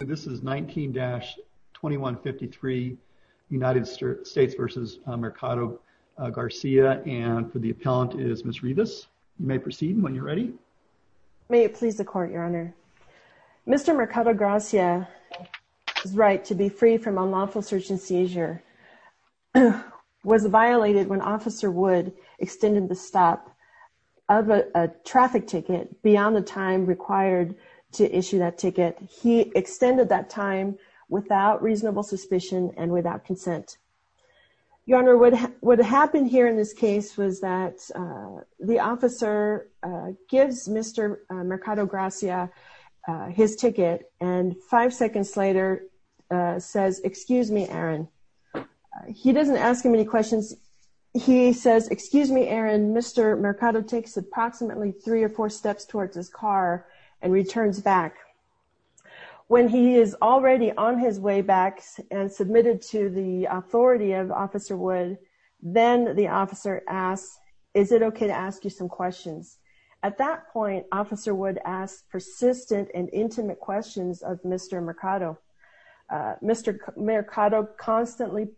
This is 19-2153 United States v. Mercado-Gracia and for the appellant is Ms. Rivas. You may proceed when you're ready. May it please the Court, Your Honor. Mr. Mercado-Gracia's right to be free from unlawful search and seizure was violated when Officer Wood extended the stop of a traffic ticket beyond the time required to issue that ticket. He extended that time without reasonable suspicion and without consent. Your Honor, what happened here in this case was that the officer gives Mr. Mercado-Gracia his ticket and five seconds later says, excuse me, Aaron. He doesn't ask him any questions. He says, excuse me, Aaron. Mr. Mercado takes approximately three or four steps towards his car and returns back. When he is already on his way back and submitted to the authority of Officer Wood, then the officer asks, is it okay to ask you some questions? At that point, Officer Wood asks persistent and intimate questions of Mr. Mercado. Mr. Mercado constantly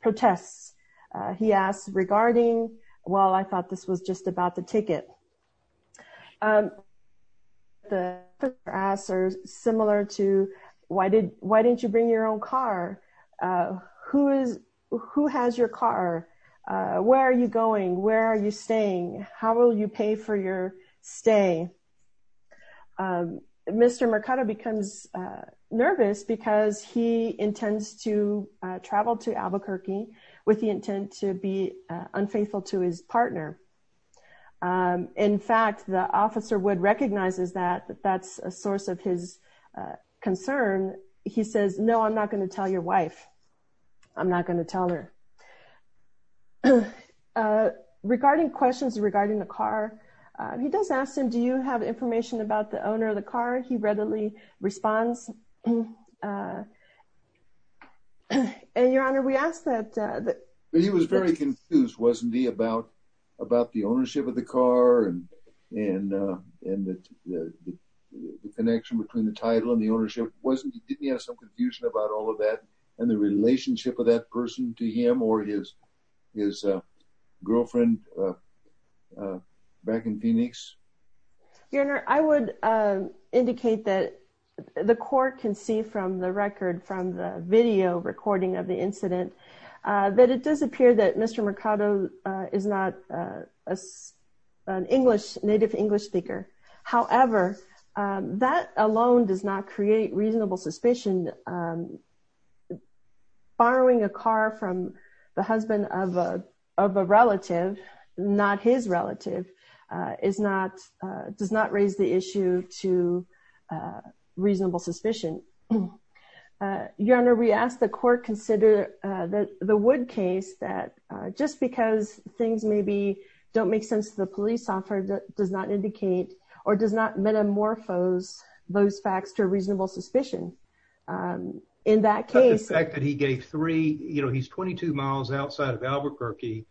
protests. He asks regarding, well, I thought this was just about the ticket. The answers are similar to, why didn't you bring your own car? Who has your car? Where are you going? Where are you staying? How will you pay for your stay? Mr. Mercado becomes nervous because he intends to travel to Albuquerque with the intent to be unfaithful to his partner. In fact, the Officer Wood recognizes that that's a source of his concern. He says, no, I'm not going to tell your wife. I'm not going to tell her. Regarding questions regarding the car, he does ask him, do you have information about the owner of the car? He readily responds. Your Honor, we asked that. He was very confused, wasn't he, about the ownership of the car and the connection between the title and the ownership. Didn't he have some confusion about all of that and the relationship of that person to him or his girlfriend back in Phoenix? Your Honor, I would indicate that the court can see from the record, from the video recording of the incident, that it does appear that Mr. Mercado is not an English, native English speaker. However, that alone does not create reasonable suspicion. Borrowing a car from the husband of a relative, not his relative, does not raise the issue to reasonable suspicion. Your Honor, we ask the court consider that the Wood case, that just because things maybe don't make sense to the police officer, does not indicate or does not metamorphose those facts to reasonable suspicion. In that case, the fact that he gave three, you know, he's 22 miles outside of Albuquerque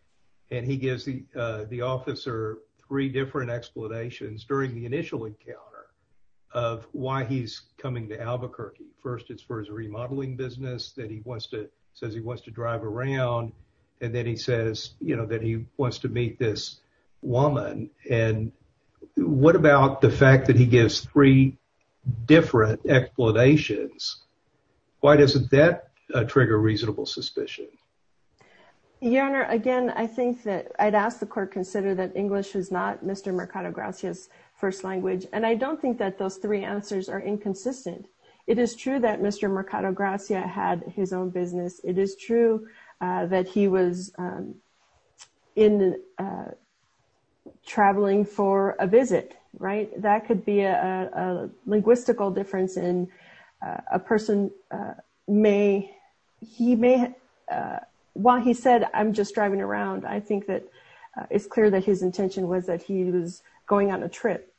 and he gives the officer three different explanations during the initial encounter of why he's coming to Albuquerque. First, it's for his remodeling business that he wants to drive around and then he says, you know, that he wants to meet this woman. And what about the fact that he gives three different explanations? Why doesn't that trigger reasonable suspicion? Your Honor, again, I think that I'd ask the court consider that English is not Mr. Mercado-Gracia's first language and I don't think that those three answers are inconsistent. It is true that Mr. Mercado-Gracia had his own business. It is true that he was traveling for a visit, right? That could be a linguistical difference in a person. While he said, I'm just driving around, I think that it's clear that his intention was that he was going on a trip.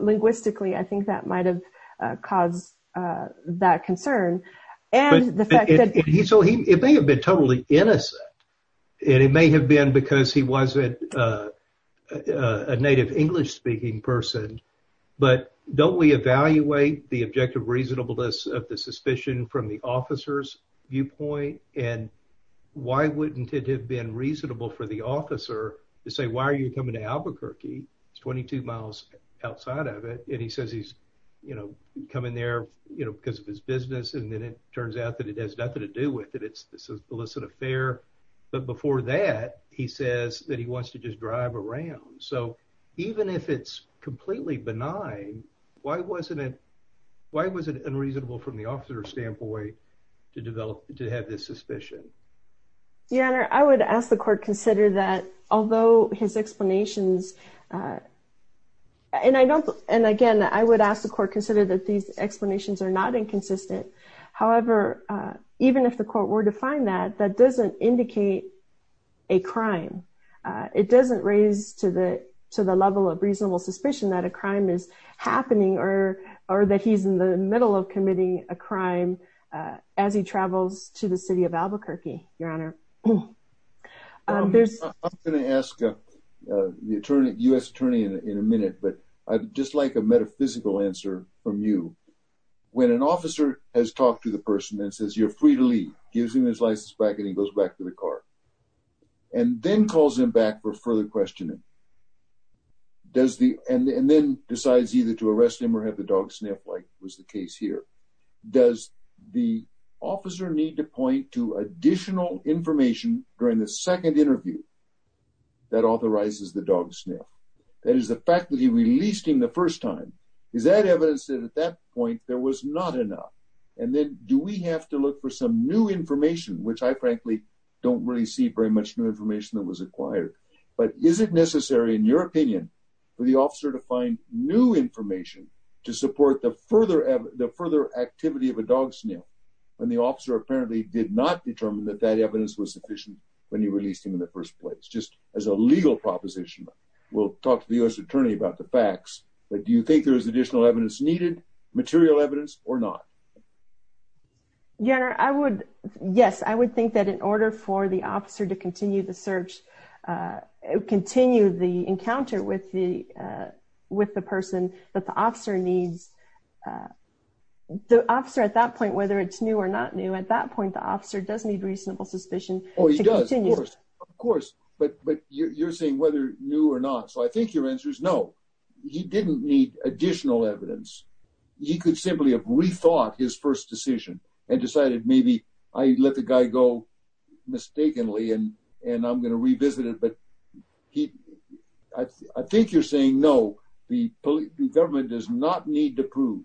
Linguistically, I think that might have caused that concern. So, it may have been totally innocent and it may have been because he wasn't a native English-speaking person, but don't we evaluate the objective reasonableness of the suspicion from the officer's viewpoint? And why wouldn't it have been reasonable for the officer to say, why are you coming to Albuquerque? It's 22 miles outside of it. And he says, he's coming there because of his business and then it turns out that it has nothing to do with it. It's this illicit affair. But before that, he says that he wants to just drive around. So, even if it's completely benign, why was it unreasonable from the officer's standpoint to have this suspicion? Your Honor, I would ask the court consider that although his explanations, and again, I would ask the court consider that these explanations are not inconsistent. However, even if the court were to find that, that doesn't indicate a crime. It doesn't raise to the level of reasonable suspicion that a crime is happening or that he's in the middle of committing a crime as he travels to the city of Albuquerque, Your Honor. I'm going to ask the U.S. attorney in a minute, but I'd just like a metaphysical answer from you. When an officer has talked to the person and says, you're free to leave, gives him his license back and he goes back to the car and then calls him back for further questioning, and then decides either to arrest him or have the dog sniff, like was the case here. Does the officer need to point to additional information during the second interview that authorizes the dog sniff? That is the fact that he released him the first time. Is that evidence that at that point there was not enough? And then do we have to look for some new information, which I frankly don't really see very much new information that was acquired, but is it necessary in your opinion for the officer to find new information to support the further activity of a dog sniff when the officer apparently did not determine that that evidence was sufficient when he released him in the first place? Just as a legal proposition, we'll talk to the U.S. attorney about the facts, but do you think there is additional evidence needed, material evidence or not? Your Honor, I would, yes, I would think that in order for the officer to continue the search, continue the encounter with the person, that the officer needs, the officer at that point, whether it's new or not new, at that point the officer does need reasonable suspicion. Oh he does, of course, but you're saying whether new or not, so I think your answer is no. He didn't need additional evidence. He could simply have rethought his first decision and decided maybe I let the guy go mistakenly and I'm going to revisit it, but I think you're saying no, the government does not need to prove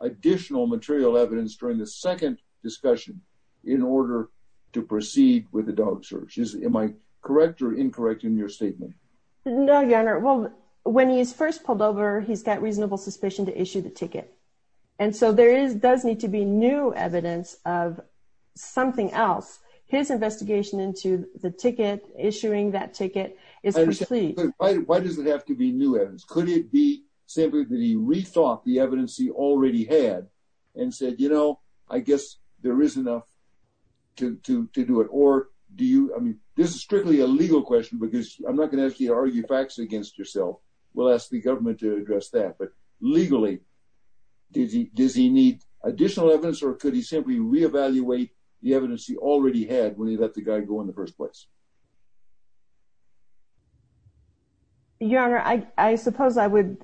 additional material evidence during the second discussion in order to proceed with the dog search. Am I correct or incorrect in your statement? No, Your Honor. Well, when he's first pulled over, he's got reasonable suspicion to issue the ticket and so there is, does need to be new evidence of something else. His investigation into the ticket, issuing that ticket is complete. Why does it have to be new evidence? Could it be simply that he rethought the evidence he already had and said, you know, I guess there is enough to do it or do you, I mean, this is strictly a legal question because I'm not going to argue facts against yourself. We'll ask the government to address that, but legally, does he need additional evidence or could he simply re-evaluate the evidence he already had when he let the guy go in the first place? Your Honor, I suppose I would,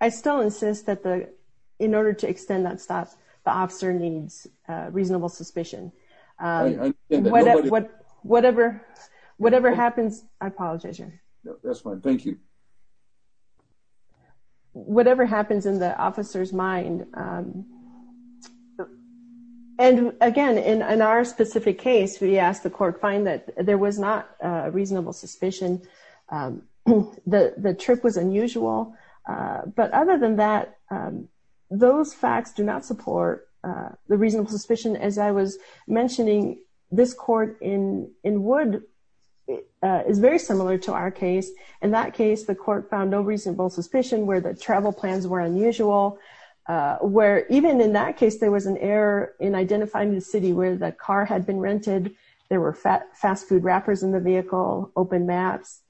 I still insist that the, in order to extend that stop, the officer needs a reasonable suspicion. Whatever happens, I apologize, Your Honor. That's fine. Thank you. Whatever happens in the officer's mind, and again, in our specific case, we asked the court to find that there was not a reasonable suspicion. The trip was unusual, but other than that, those facts do not support the reasonable suspicion. As I was mentioning, this court in Wood is very similar to our case. In that case, the court found no reasonable suspicion where the travel plans were unusual, where even in that case, there was an error in identifying the city where the car had been rented. There were fast food wrappers in the vehicle, open maps,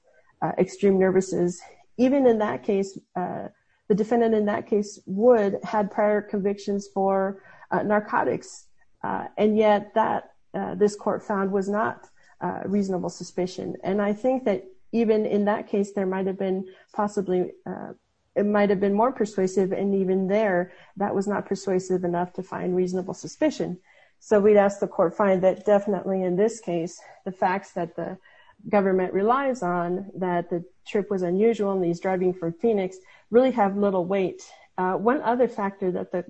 extreme nervousness. Even in that case, the defendant in that case, Wood, had prior convictions for narcotics, and yet this court found was not a reasonable suspicion, and I think that even in that case, there might have been possibly, it might have been more persuasive, and even there, that was not persuasive enough to find in this case, the facts that the government relies on that the trip was unusual and he's driving for Phoenix really have little weight. One other factor that the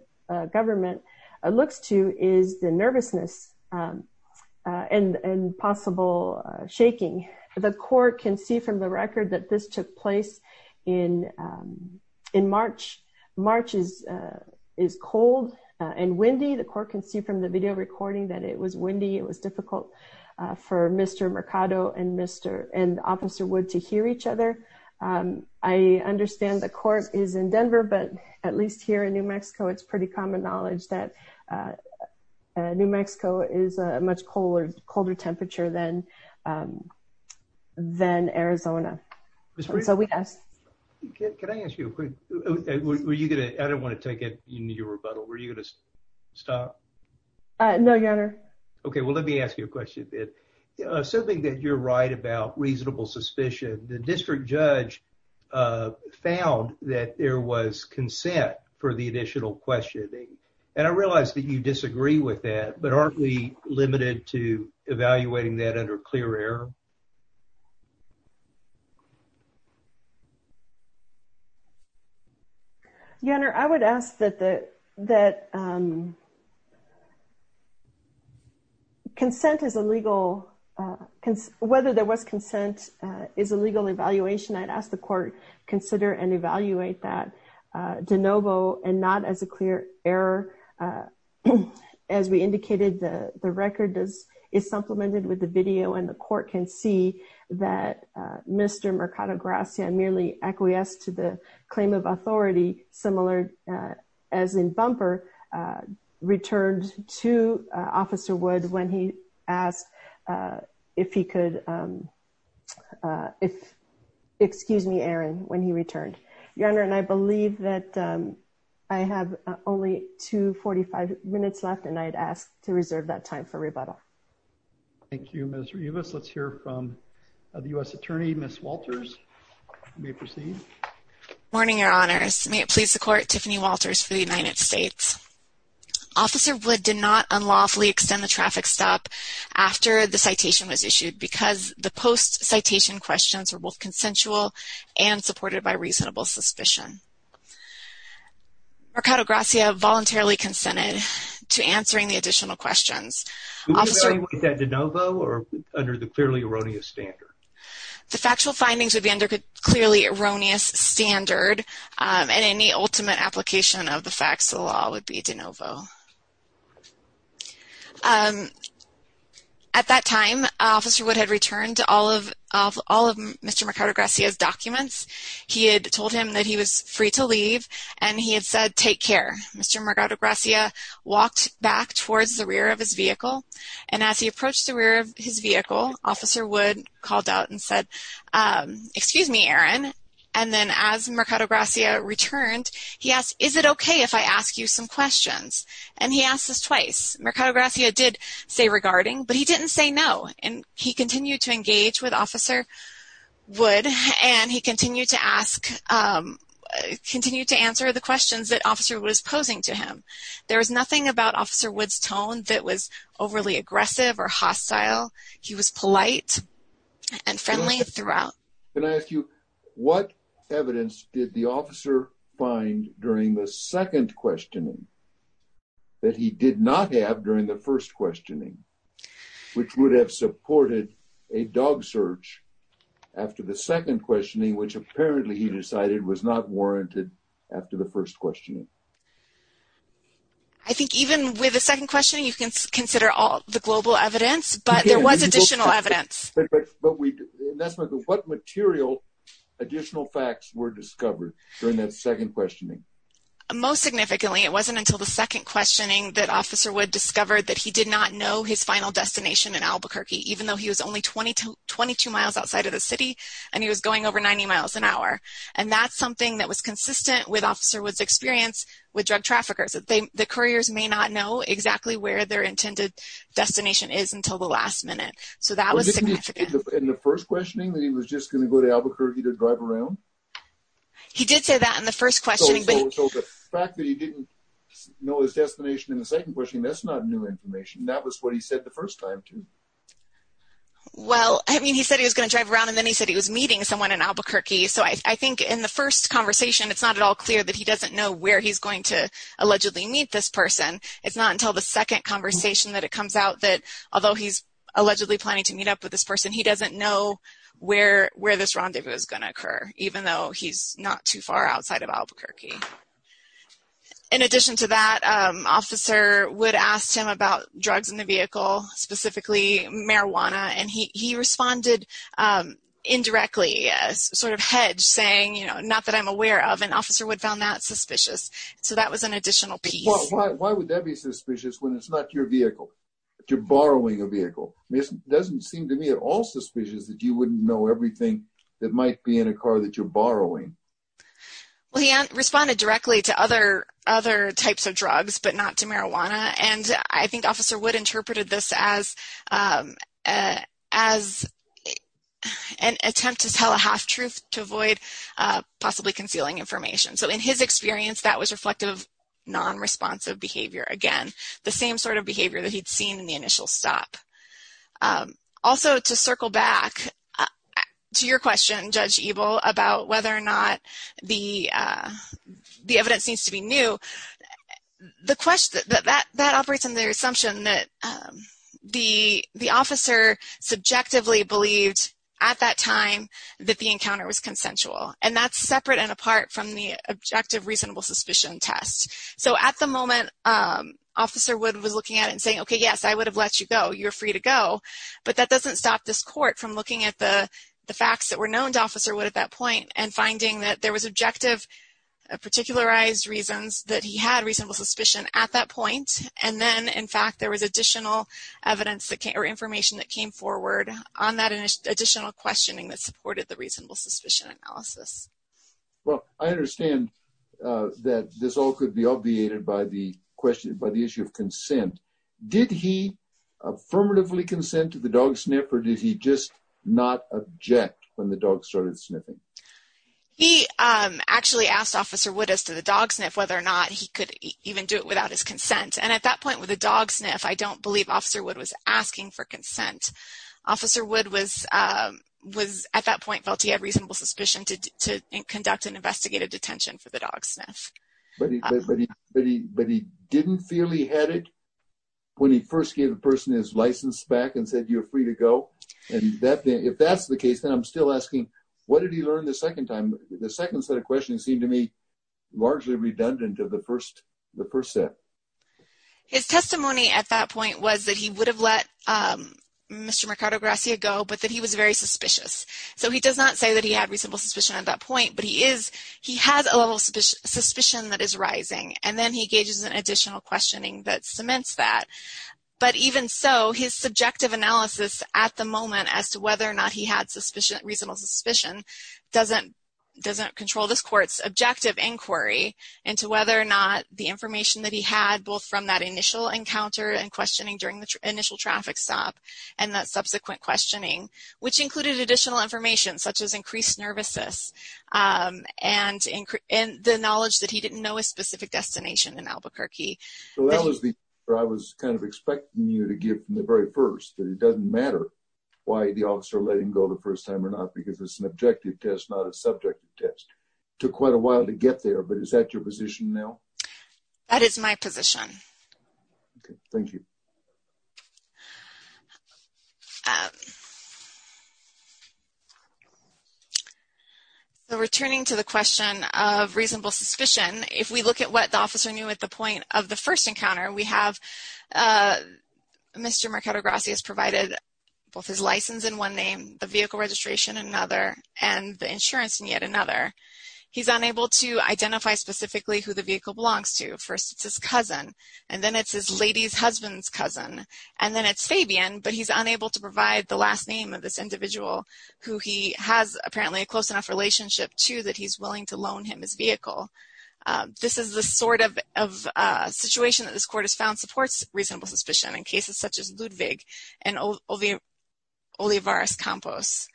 government looks to is the nervousness and possible shaking. The court can see from the record that this took place in March. March is cold and windy. The court can see from the video recording that it was windy. It was difficult for Mr. Mercado and Officer Wood to hear each other. I understand the court is in Denver, but at least here in New Mexico, it's pretty common knowledge that New Mexico is a much colder temperature than Arizona, and so we asked... Can I ask you a quick... I don't want to take your rebuttal. Were you going to stop? No, Your Honor. Okay, well, let me ask you a question. Assuming that you're right about reasonable suspicion, the district judge found that there was consent for the additional questioning, and I realize that you disagree with that, but aren't we limited to evaluating that under clear error? Your Honor, I would ask that consent is a legal... Whether there was consent is a legal evaluation. I'd ask the court consider and evaluate that de novo and not as a clear error. As we indicated, the record is supplemented with the video, and the court can see that Mr. Mercado Gracia merely acquiesced to the claim of authority, similar as in Bumper, returned to Officer Wood when he asked if he could... Excuse me, Aaron, when he returned. Your Honor, I believe that I have only 245 minutes left, and I'd ask to reserve that time for rebuttal. Thank you, Ms. Rivas. Let's hear from the U.S. Attorney, Ms. Walters. You may proceed. Good morning, Your Honors. May it please the Court, Tiffany Walters for the United States. Officer Wood did not unlawfully extend the traffic stop after the citation was issued because the post-citation questions were both consensual and supported by reasonable suspicion. Mercado Gracia voluntarily consented to answering the additional questions. Would you evaluate that de novo or under the clearly erroneous standard? The factual findings would be under a clearly erroneous standard, and any ultimate application of the facts of the law would be de novo. At that time, Officer Wood had returned all of Mr. Mercado Gracia's documents. He had told him that he was free to leave, and he had said, take care. Mr. Mercado Gracia walked back towards the rear of his vehicle, and as he approached the rear of his vehicle, Officer Wood called out and said, excuse me, Aaron, and then as Mercado Gracia returned, he asked, is it okay if I ask you some questions? And he asked this twice. Mercado Gracia did say regarding, but he didn't say no, and he continued to engage with Officer Wood, and he continued to ask, continued to answer the questions that Officer Wood was posing to him. There was nothing about Officer Wood's tone that was overly aggressive or hostile. He was polite and friendly throughout. Can I ask you, what evidence did the officer find during the second questioning that he did not have during the first questioning, which would have supported a dog search after the second questioning, which apparently he decided was not warranted after the first questioning? I think even with the second questioning, you can consider all global evidence, but there was additional evidence. What material additional facts were discovered during that second questioning? Most significantly, it wasn't until the second questioning that Officer Wood discovered that he did not know his final destination in Albuquerque, even though he was only 22 miles outside of the city, and he was going over 90 miles an hour, and that's something that was consistent with Officer Wood's experience with drug traffickers. The couriers may not know exactly where their intended destination is until the last minute, so that was significant. In the first questioning, he was just going to go to Albuquerque to drive around? He did say that in the first questioning, but the fact that he didn't know his destination in the second question, that's not new information. That was what he said the first time, too. Well, I mean, he said he was going to drive around, and then he said he was meeting someone in Albuquerque, so I think in the first conversation, it's not at all clear that he meet this person. It's not until the second conversation that it comes out that, although he's allegedly planning to meet up with this person, he doesn't know where this rendezvous is going to occur, even though he's not too far outside of Albuquerque. In addition to that, Officer Wood asked him about drugs in the vehicle, specifically marijuana, and he responded indirectly, sort of hedged, saying, you know, not that I'm aware of, and Officer Wood found that suspicious, so that was an additional piece. Why would that be suspicious when it's not your vehicle? You're borrowing a vehicle. It doesn't seem to me at all suspicious that you wouldn't know everything that might be in a car that you're borrowing. Well, he responded directly to other types of drugs, but not to marijuana, and I think Officer Wood interpreted this as an attempt to tell a half-truth to avoid possibly concealing information. So, in his experience, that was reflective of non-responsive behavior, again, the same sort of behavior that he'd seen in the initial stop. Also, to circle back to your question, Judge Ebel, about whether or not the evidence needs to be new, that operates under the assumption that the officer subjectively believed at that time that the encounter was consensual, and that's separate and apart from the objective reasonable suspicion test. So, at the moment, Officer Wood was looking at it and saying, okay, yes, I would have let you go. You're free to go, but that doesn't stop this court from looking at the facts that were known to Officer Wood at that point and finding that there was objective, particularized reasons that he had reasonable suspicion at that point, and then, in fact, there was additional evidence or information that came forward on that additional questioning that supported the reasonable suspicion analysis. Well, I understand that this all could be obviated by the issue of consent. Did he affirmatively consent to the dog sniff, or did he just not object when the dog started sniffing? He actually asked Officer Wood as to the dog sniff whether or not he could even do it without his consent, and at that point, with a dog sniff, I don't believe Officer Wood was asking for consent. Officer Wood was, at that point, felt he had reasonable suspicion to conduct an investigative detention for the dog sniff. But he didn't feel he had it when he first gave the person his license back and said, you're free to go, and if that's the case, then I'm still asking, what did he learn the second time? The second set of questions seemed to me largely redundant of the first set. His testimony at that point was that he would have let Mr. Mercado-Gracia go, but that he was very suspicious. So he does not say that he had reasonable suspicion at that point, but he has a level of suspicion that is rising, and then he engages in additional questioning that cements that. But even so, his subjective suspicion doesn't control this court's objective inquiry into whether or not the information that he had, both from that initial encounter and questioning during the initial traffic stop, and that subsequent questioning, which included additional information, such as increased nervousness and the knowledge that he didn't know a specific destination in Albuquerque. So that was the answer I was kind of expecting you to give from the very first, that it doesn't matter why the officer let him go the first time or not, because it's an objective test, not a subjective test. Took quite a while to get there, but is that your position now? That is my position. Okay, thank you. So returning to the question of reasonable suspicion, if we look at what the officer knew at the point of the first encounter, we have Mr. Mercado-Gracias provided both his license in one name, the vehicle registration in another, and the insurance in yet another. He's unable to identify specifically who the vehicle belongs to. First, it's his cousin, and then it's his lady's husband's cousin, and then it's Fabian, but he's unable to provide the last name of this individual who he has apparently a close enough relationship to that he's willing to loan him his vehicle. This is the sort of situation that this court has found supports reasonable suspicion in cases such as Ludwig and Olivares-Campos.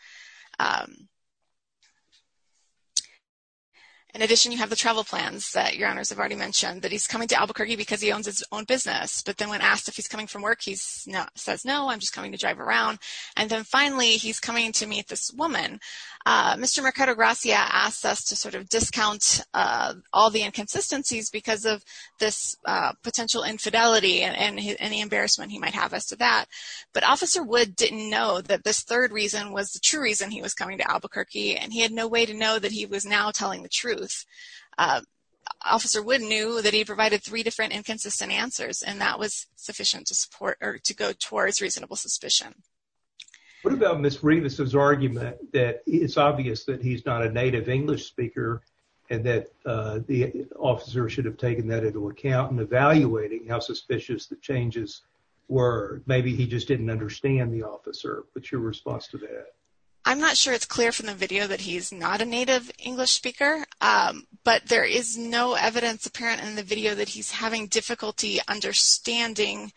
In addition, you have the travel plans that your honors have already mentioned, that he's coming to Albuquerque because he owns his own business, but then when asked if he's coming from work, he says, no, I'm just coming to drive around. And then finally, he's coming to meet this woman. Mr. Mercado-Gracia asks us to sort of count all the inconsistencies because of this potential infidelity and any embarrassment he might have as to that. But Officer Wood didn't know that this third reason was the true reason he was coming to Albuquerque, and he had no way to know that he was now telling the truth. Officer Wood knew that he provided three different inconsistent answers, and that was sufficient to support or to go towards reasonable suspicion. What about Ms. Rivas' argument that it's obvious that he's not a native English speaker and that the officer should have taken that into account in evaluating how suspicious the changes were? Maybe he just didn't understand the officer, but your response to that? I'm not sure it's clear from the video that he's not a native English speaker, but there is no evidence apparent in the video that he's having difficulty understanding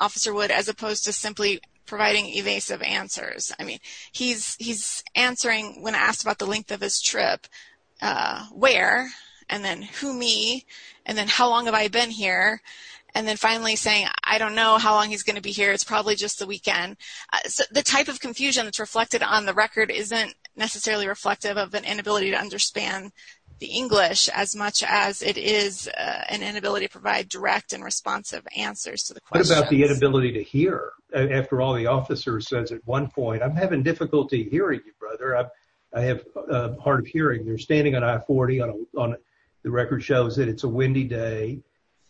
Officer Wood as opposed to simply providing evasive answers. I mean, he's answering when asked about the length of his trip, where, and then who me, and then how long have I been here, and then finally saying, I don't know how long he's going to be here. It's probably just the weekend. The type of confusion that's reflected on the record isn't necessarily reflective of an inability to understand the English as much as it is an inability to provide direct and responsive answers to the questions. What about the inability to hear? After all, the officer says at one point, I'm having difficulty hearing you, brother. I have a hard of hearing. You're standing on I-40, on the record shows that it's a windy day,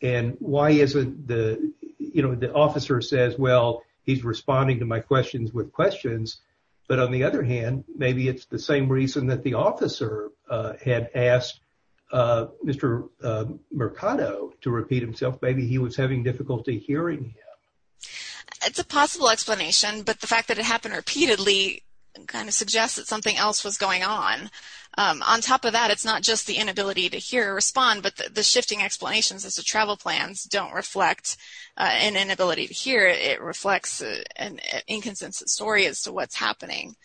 and why isn't the, you know, the officer says, well, he's responding to my questions with questions, but on the other hand, maybe it's the same reason that the officer had asked Mr. Mercado to repeat himself. Maybe he was having difficulty hearing him. It's a possible explanation, but the fact that it happened repeatedly kind of suggests that something else was going on. On top of that, it's not just the inability to hear or respond, but the shifting explanations as to travel plans don't reflect an inability to hear. It reflects an inconsistent story as to what's happening.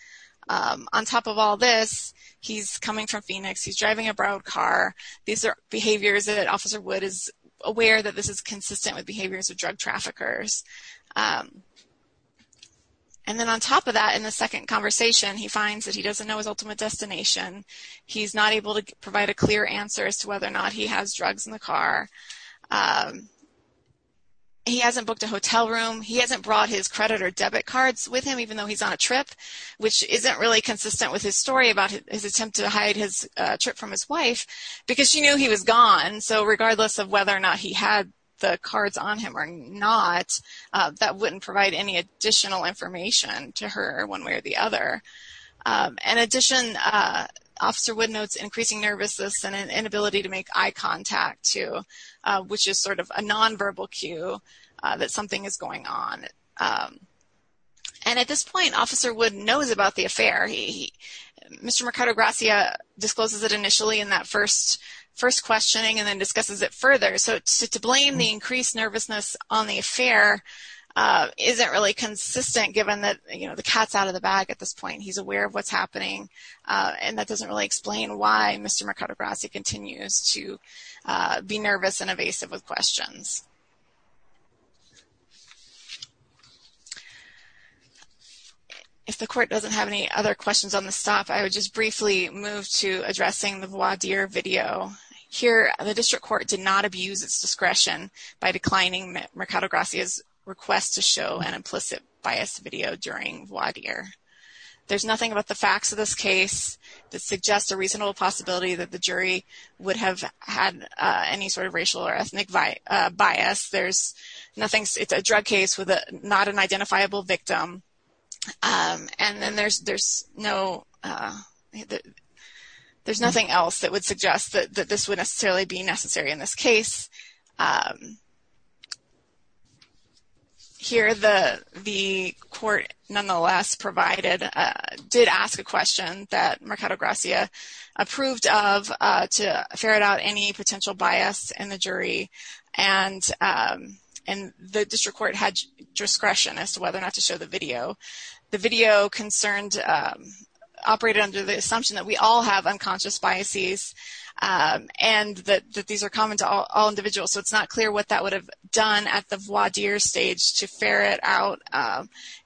On top of all this, he's coming from Phoenix. He's driving a borrowed car. These are behaviors that Officer Wood is aware that this is consistent with behaviors of drug traffickers. And then on top of that, in the second conversation, he finds that he doesn't know his ultimate destination. He's not able to provide a clear answer as to whether or not he has drugs in the car. He hasn't booked a hotel room. He hasn't brought his credit or debit cards with him, even though he's on a trip, which isn't really consistent with his story about his attempt to hide his trip from his wife, because she knew he was gone. So, regardless of whether or not he had the cards on him or not, that wouldn't provide any additional information to her one way or the other. In addition, Officer Wood notes increasing nervousness and an inability to make eye contact, too, which is sort of a non-verbal cue that something is going on. And at this point, Officer Wood knows about the affair. Mr. Mercado-Gracia discloses it initially in that first questioning and then discusses it further. So, to blame the increased nervousness on the affair isn't really consistent, given that, you know, the cat's out of the bag at this point. He's aware of what's happening, and that doesn't really explain why Mr. Mercado-Gracia continues to be nervous and evasive with questions. If the Court doesn't have any other questions on this stuff, I would just briefly move to addressing the voir dire video. Here, the District Court did not abuse its discretion by declining Mercado-Gracia's request to show an implicit bias video during voir dire. There's nothing about the facts of this case that suggests a reasonable possibility that the jury would have had any sort of racial or ethnic bias. There's nothing, it's a drug case with not an identifiable victim, and then there's no, there's nothing else that would suggest that this would necessarily be necessary in this case. Here, the Court nonetheless provided, did ask a question that Mercado-Gracia approved of to ferret out any potential bias in the jury, and the District Court had discretion as to whether or not to show the video. The video concerned, operated under the So, it's not clear what that would have done at the voir dire stage to ferret out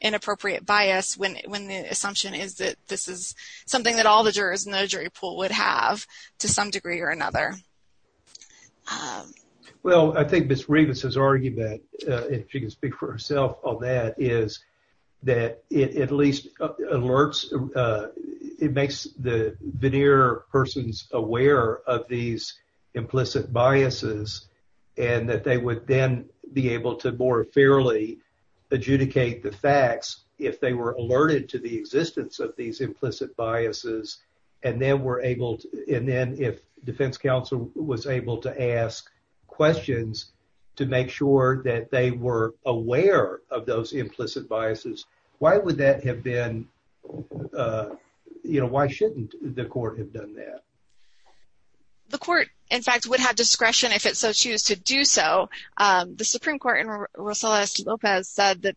inappropriate bias when the assumption is that this is something that all the jurors in the jury pool would have to some degree or another. Well, I think Ms. Rivas has argued that, if she can speak for herself on that, is that it at least alerts, it makes the implicit biases, and that they would then be able to more fairly adjudicate the facts if they were alerted to the existence of these implicit biases, and then were able to, and then if defense counsel was able to ask questions to make sure that they were aware of those implicit biases, why would that have been, you know, why shouldn't the Court have done that? The Court, in fact, would have discretion if it so choose to do so. The Supreme Court and Rosales-Lopez said that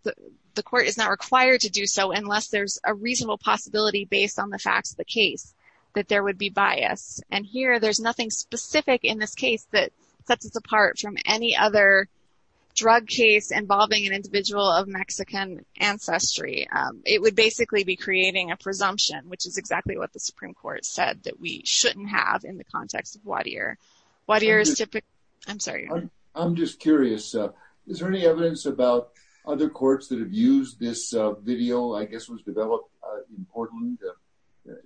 the Court is not required to do so unless there's a reasonable possibility based on the facts of the case that there would be bias, and here there's nothing specific in this case that sets us apart from any other drug case involving an individual of Mexican ancestry. It would basically be creating a presumption, which is exactly what the Supreme Court said, that we shouldn't have in the context of Wadier. Wadier is typically, I'm sorry. I'm just curious, is there any evidence about other courts that have used this video, I guess was developed in Portland?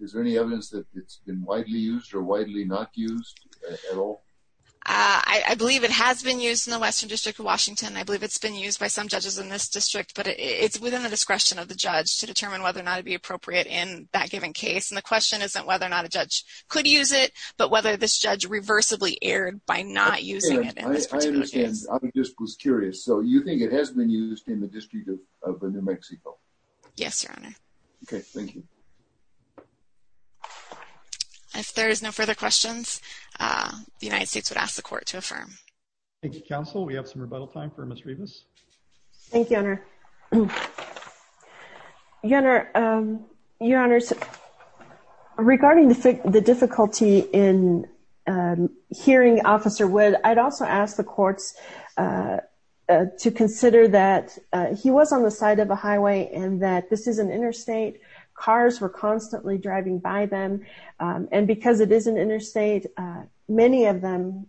Is there any evidence that it's been widely used or widely not used at all? I believe it has been used in the Western District of Washington. I believe it's been used by some judges in this district, but it's within the discretion of the judge to determine whether or not it'd be appropriate in that given case, and the question isn't whether or not a judge could use it, but whether this judge reversibly erred by not using it in this particular case. I understand. I just was curious. So you think it has been used in the District of New Mexico? Yes, Your Honor. Okay, thank you. If there is no further questions, the United States would ask the Court to affirm. Thank you, Counsel. We have some rebuttal time for Ms. Rivas. Thank you, Your Honor. Your Honor, regarding the difficulty in hearing Officer Wood, I'd also ask the courts to consider that he was on the side of a highway and that this is an interstate. Cars were constantly driving by them, and because it is an interstate, many of them,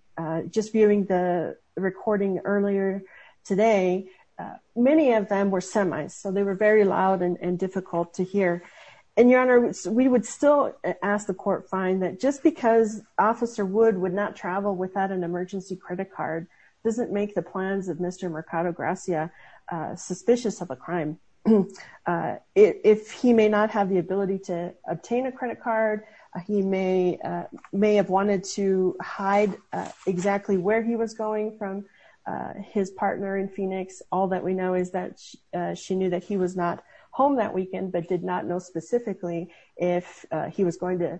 just viewing the recording earlier today, many of them were semis, so they were very loud and difficult to hear. And, Your Honor, we would still ask the Court to find that just because Officer Wood would not travel without an emergency credit card doesn't make the plans of Mr. Mercado Gracia suspicious of a crime. If he may not have the ability to obtain a credit card, he may have wanted to hide exactly where he was going from his partner in Phoenix. All that we know is that she knew that he was not home that weekend but did not know specifically if he was going to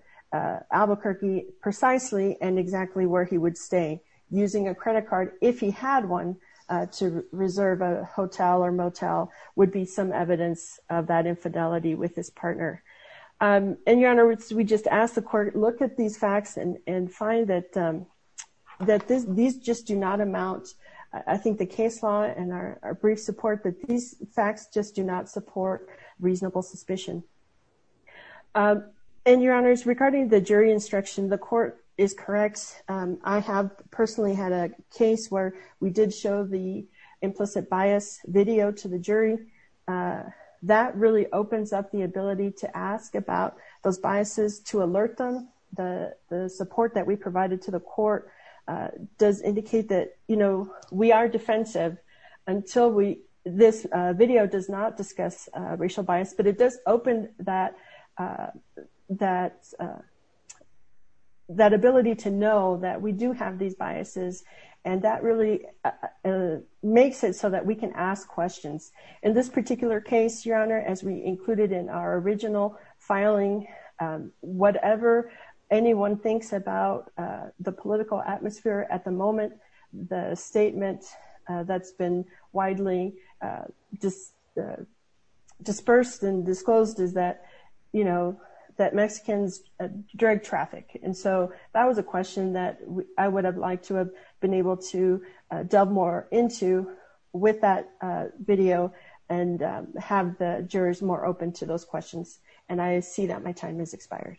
Albuquerque precisely and exactly where he would stay. Using a credit card if he had one to reserve a hotel or motel would be some evidence of that infidelity with his partner. And, Your Honor, we just ask the Court look at these facts and find that these just do not amount, I think the case law and our brief support, that these facts just do not support reasonable suspicion. And, Your Honor, regarding the jury instruction, the Court is correct. I have personally had a case where we did show the implicit bias video to the jury. That really opens up the ability to ask about those biases to alert them. The support that we provided to the Court does indicate that, you know, we are defensive until this video does not discuss racial bias. But it does open that ability to know that we do have these biases. And that really makes it so that we can ask questions. In this particular case, Your Honor, as we included in our original filing, whatever anyone thinks about the political atmosphere at the moment, the statement that's been widely dispersed and disclosed is that, you know, that Mexicans drag traffic. And so that was a question that I would have liked to have been able to delve more into with that video and have the jurors more open to those questions. And I see that my time has expired.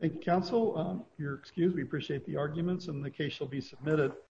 Thank you, counsel. We appreciate the arguments and the case will be submitted.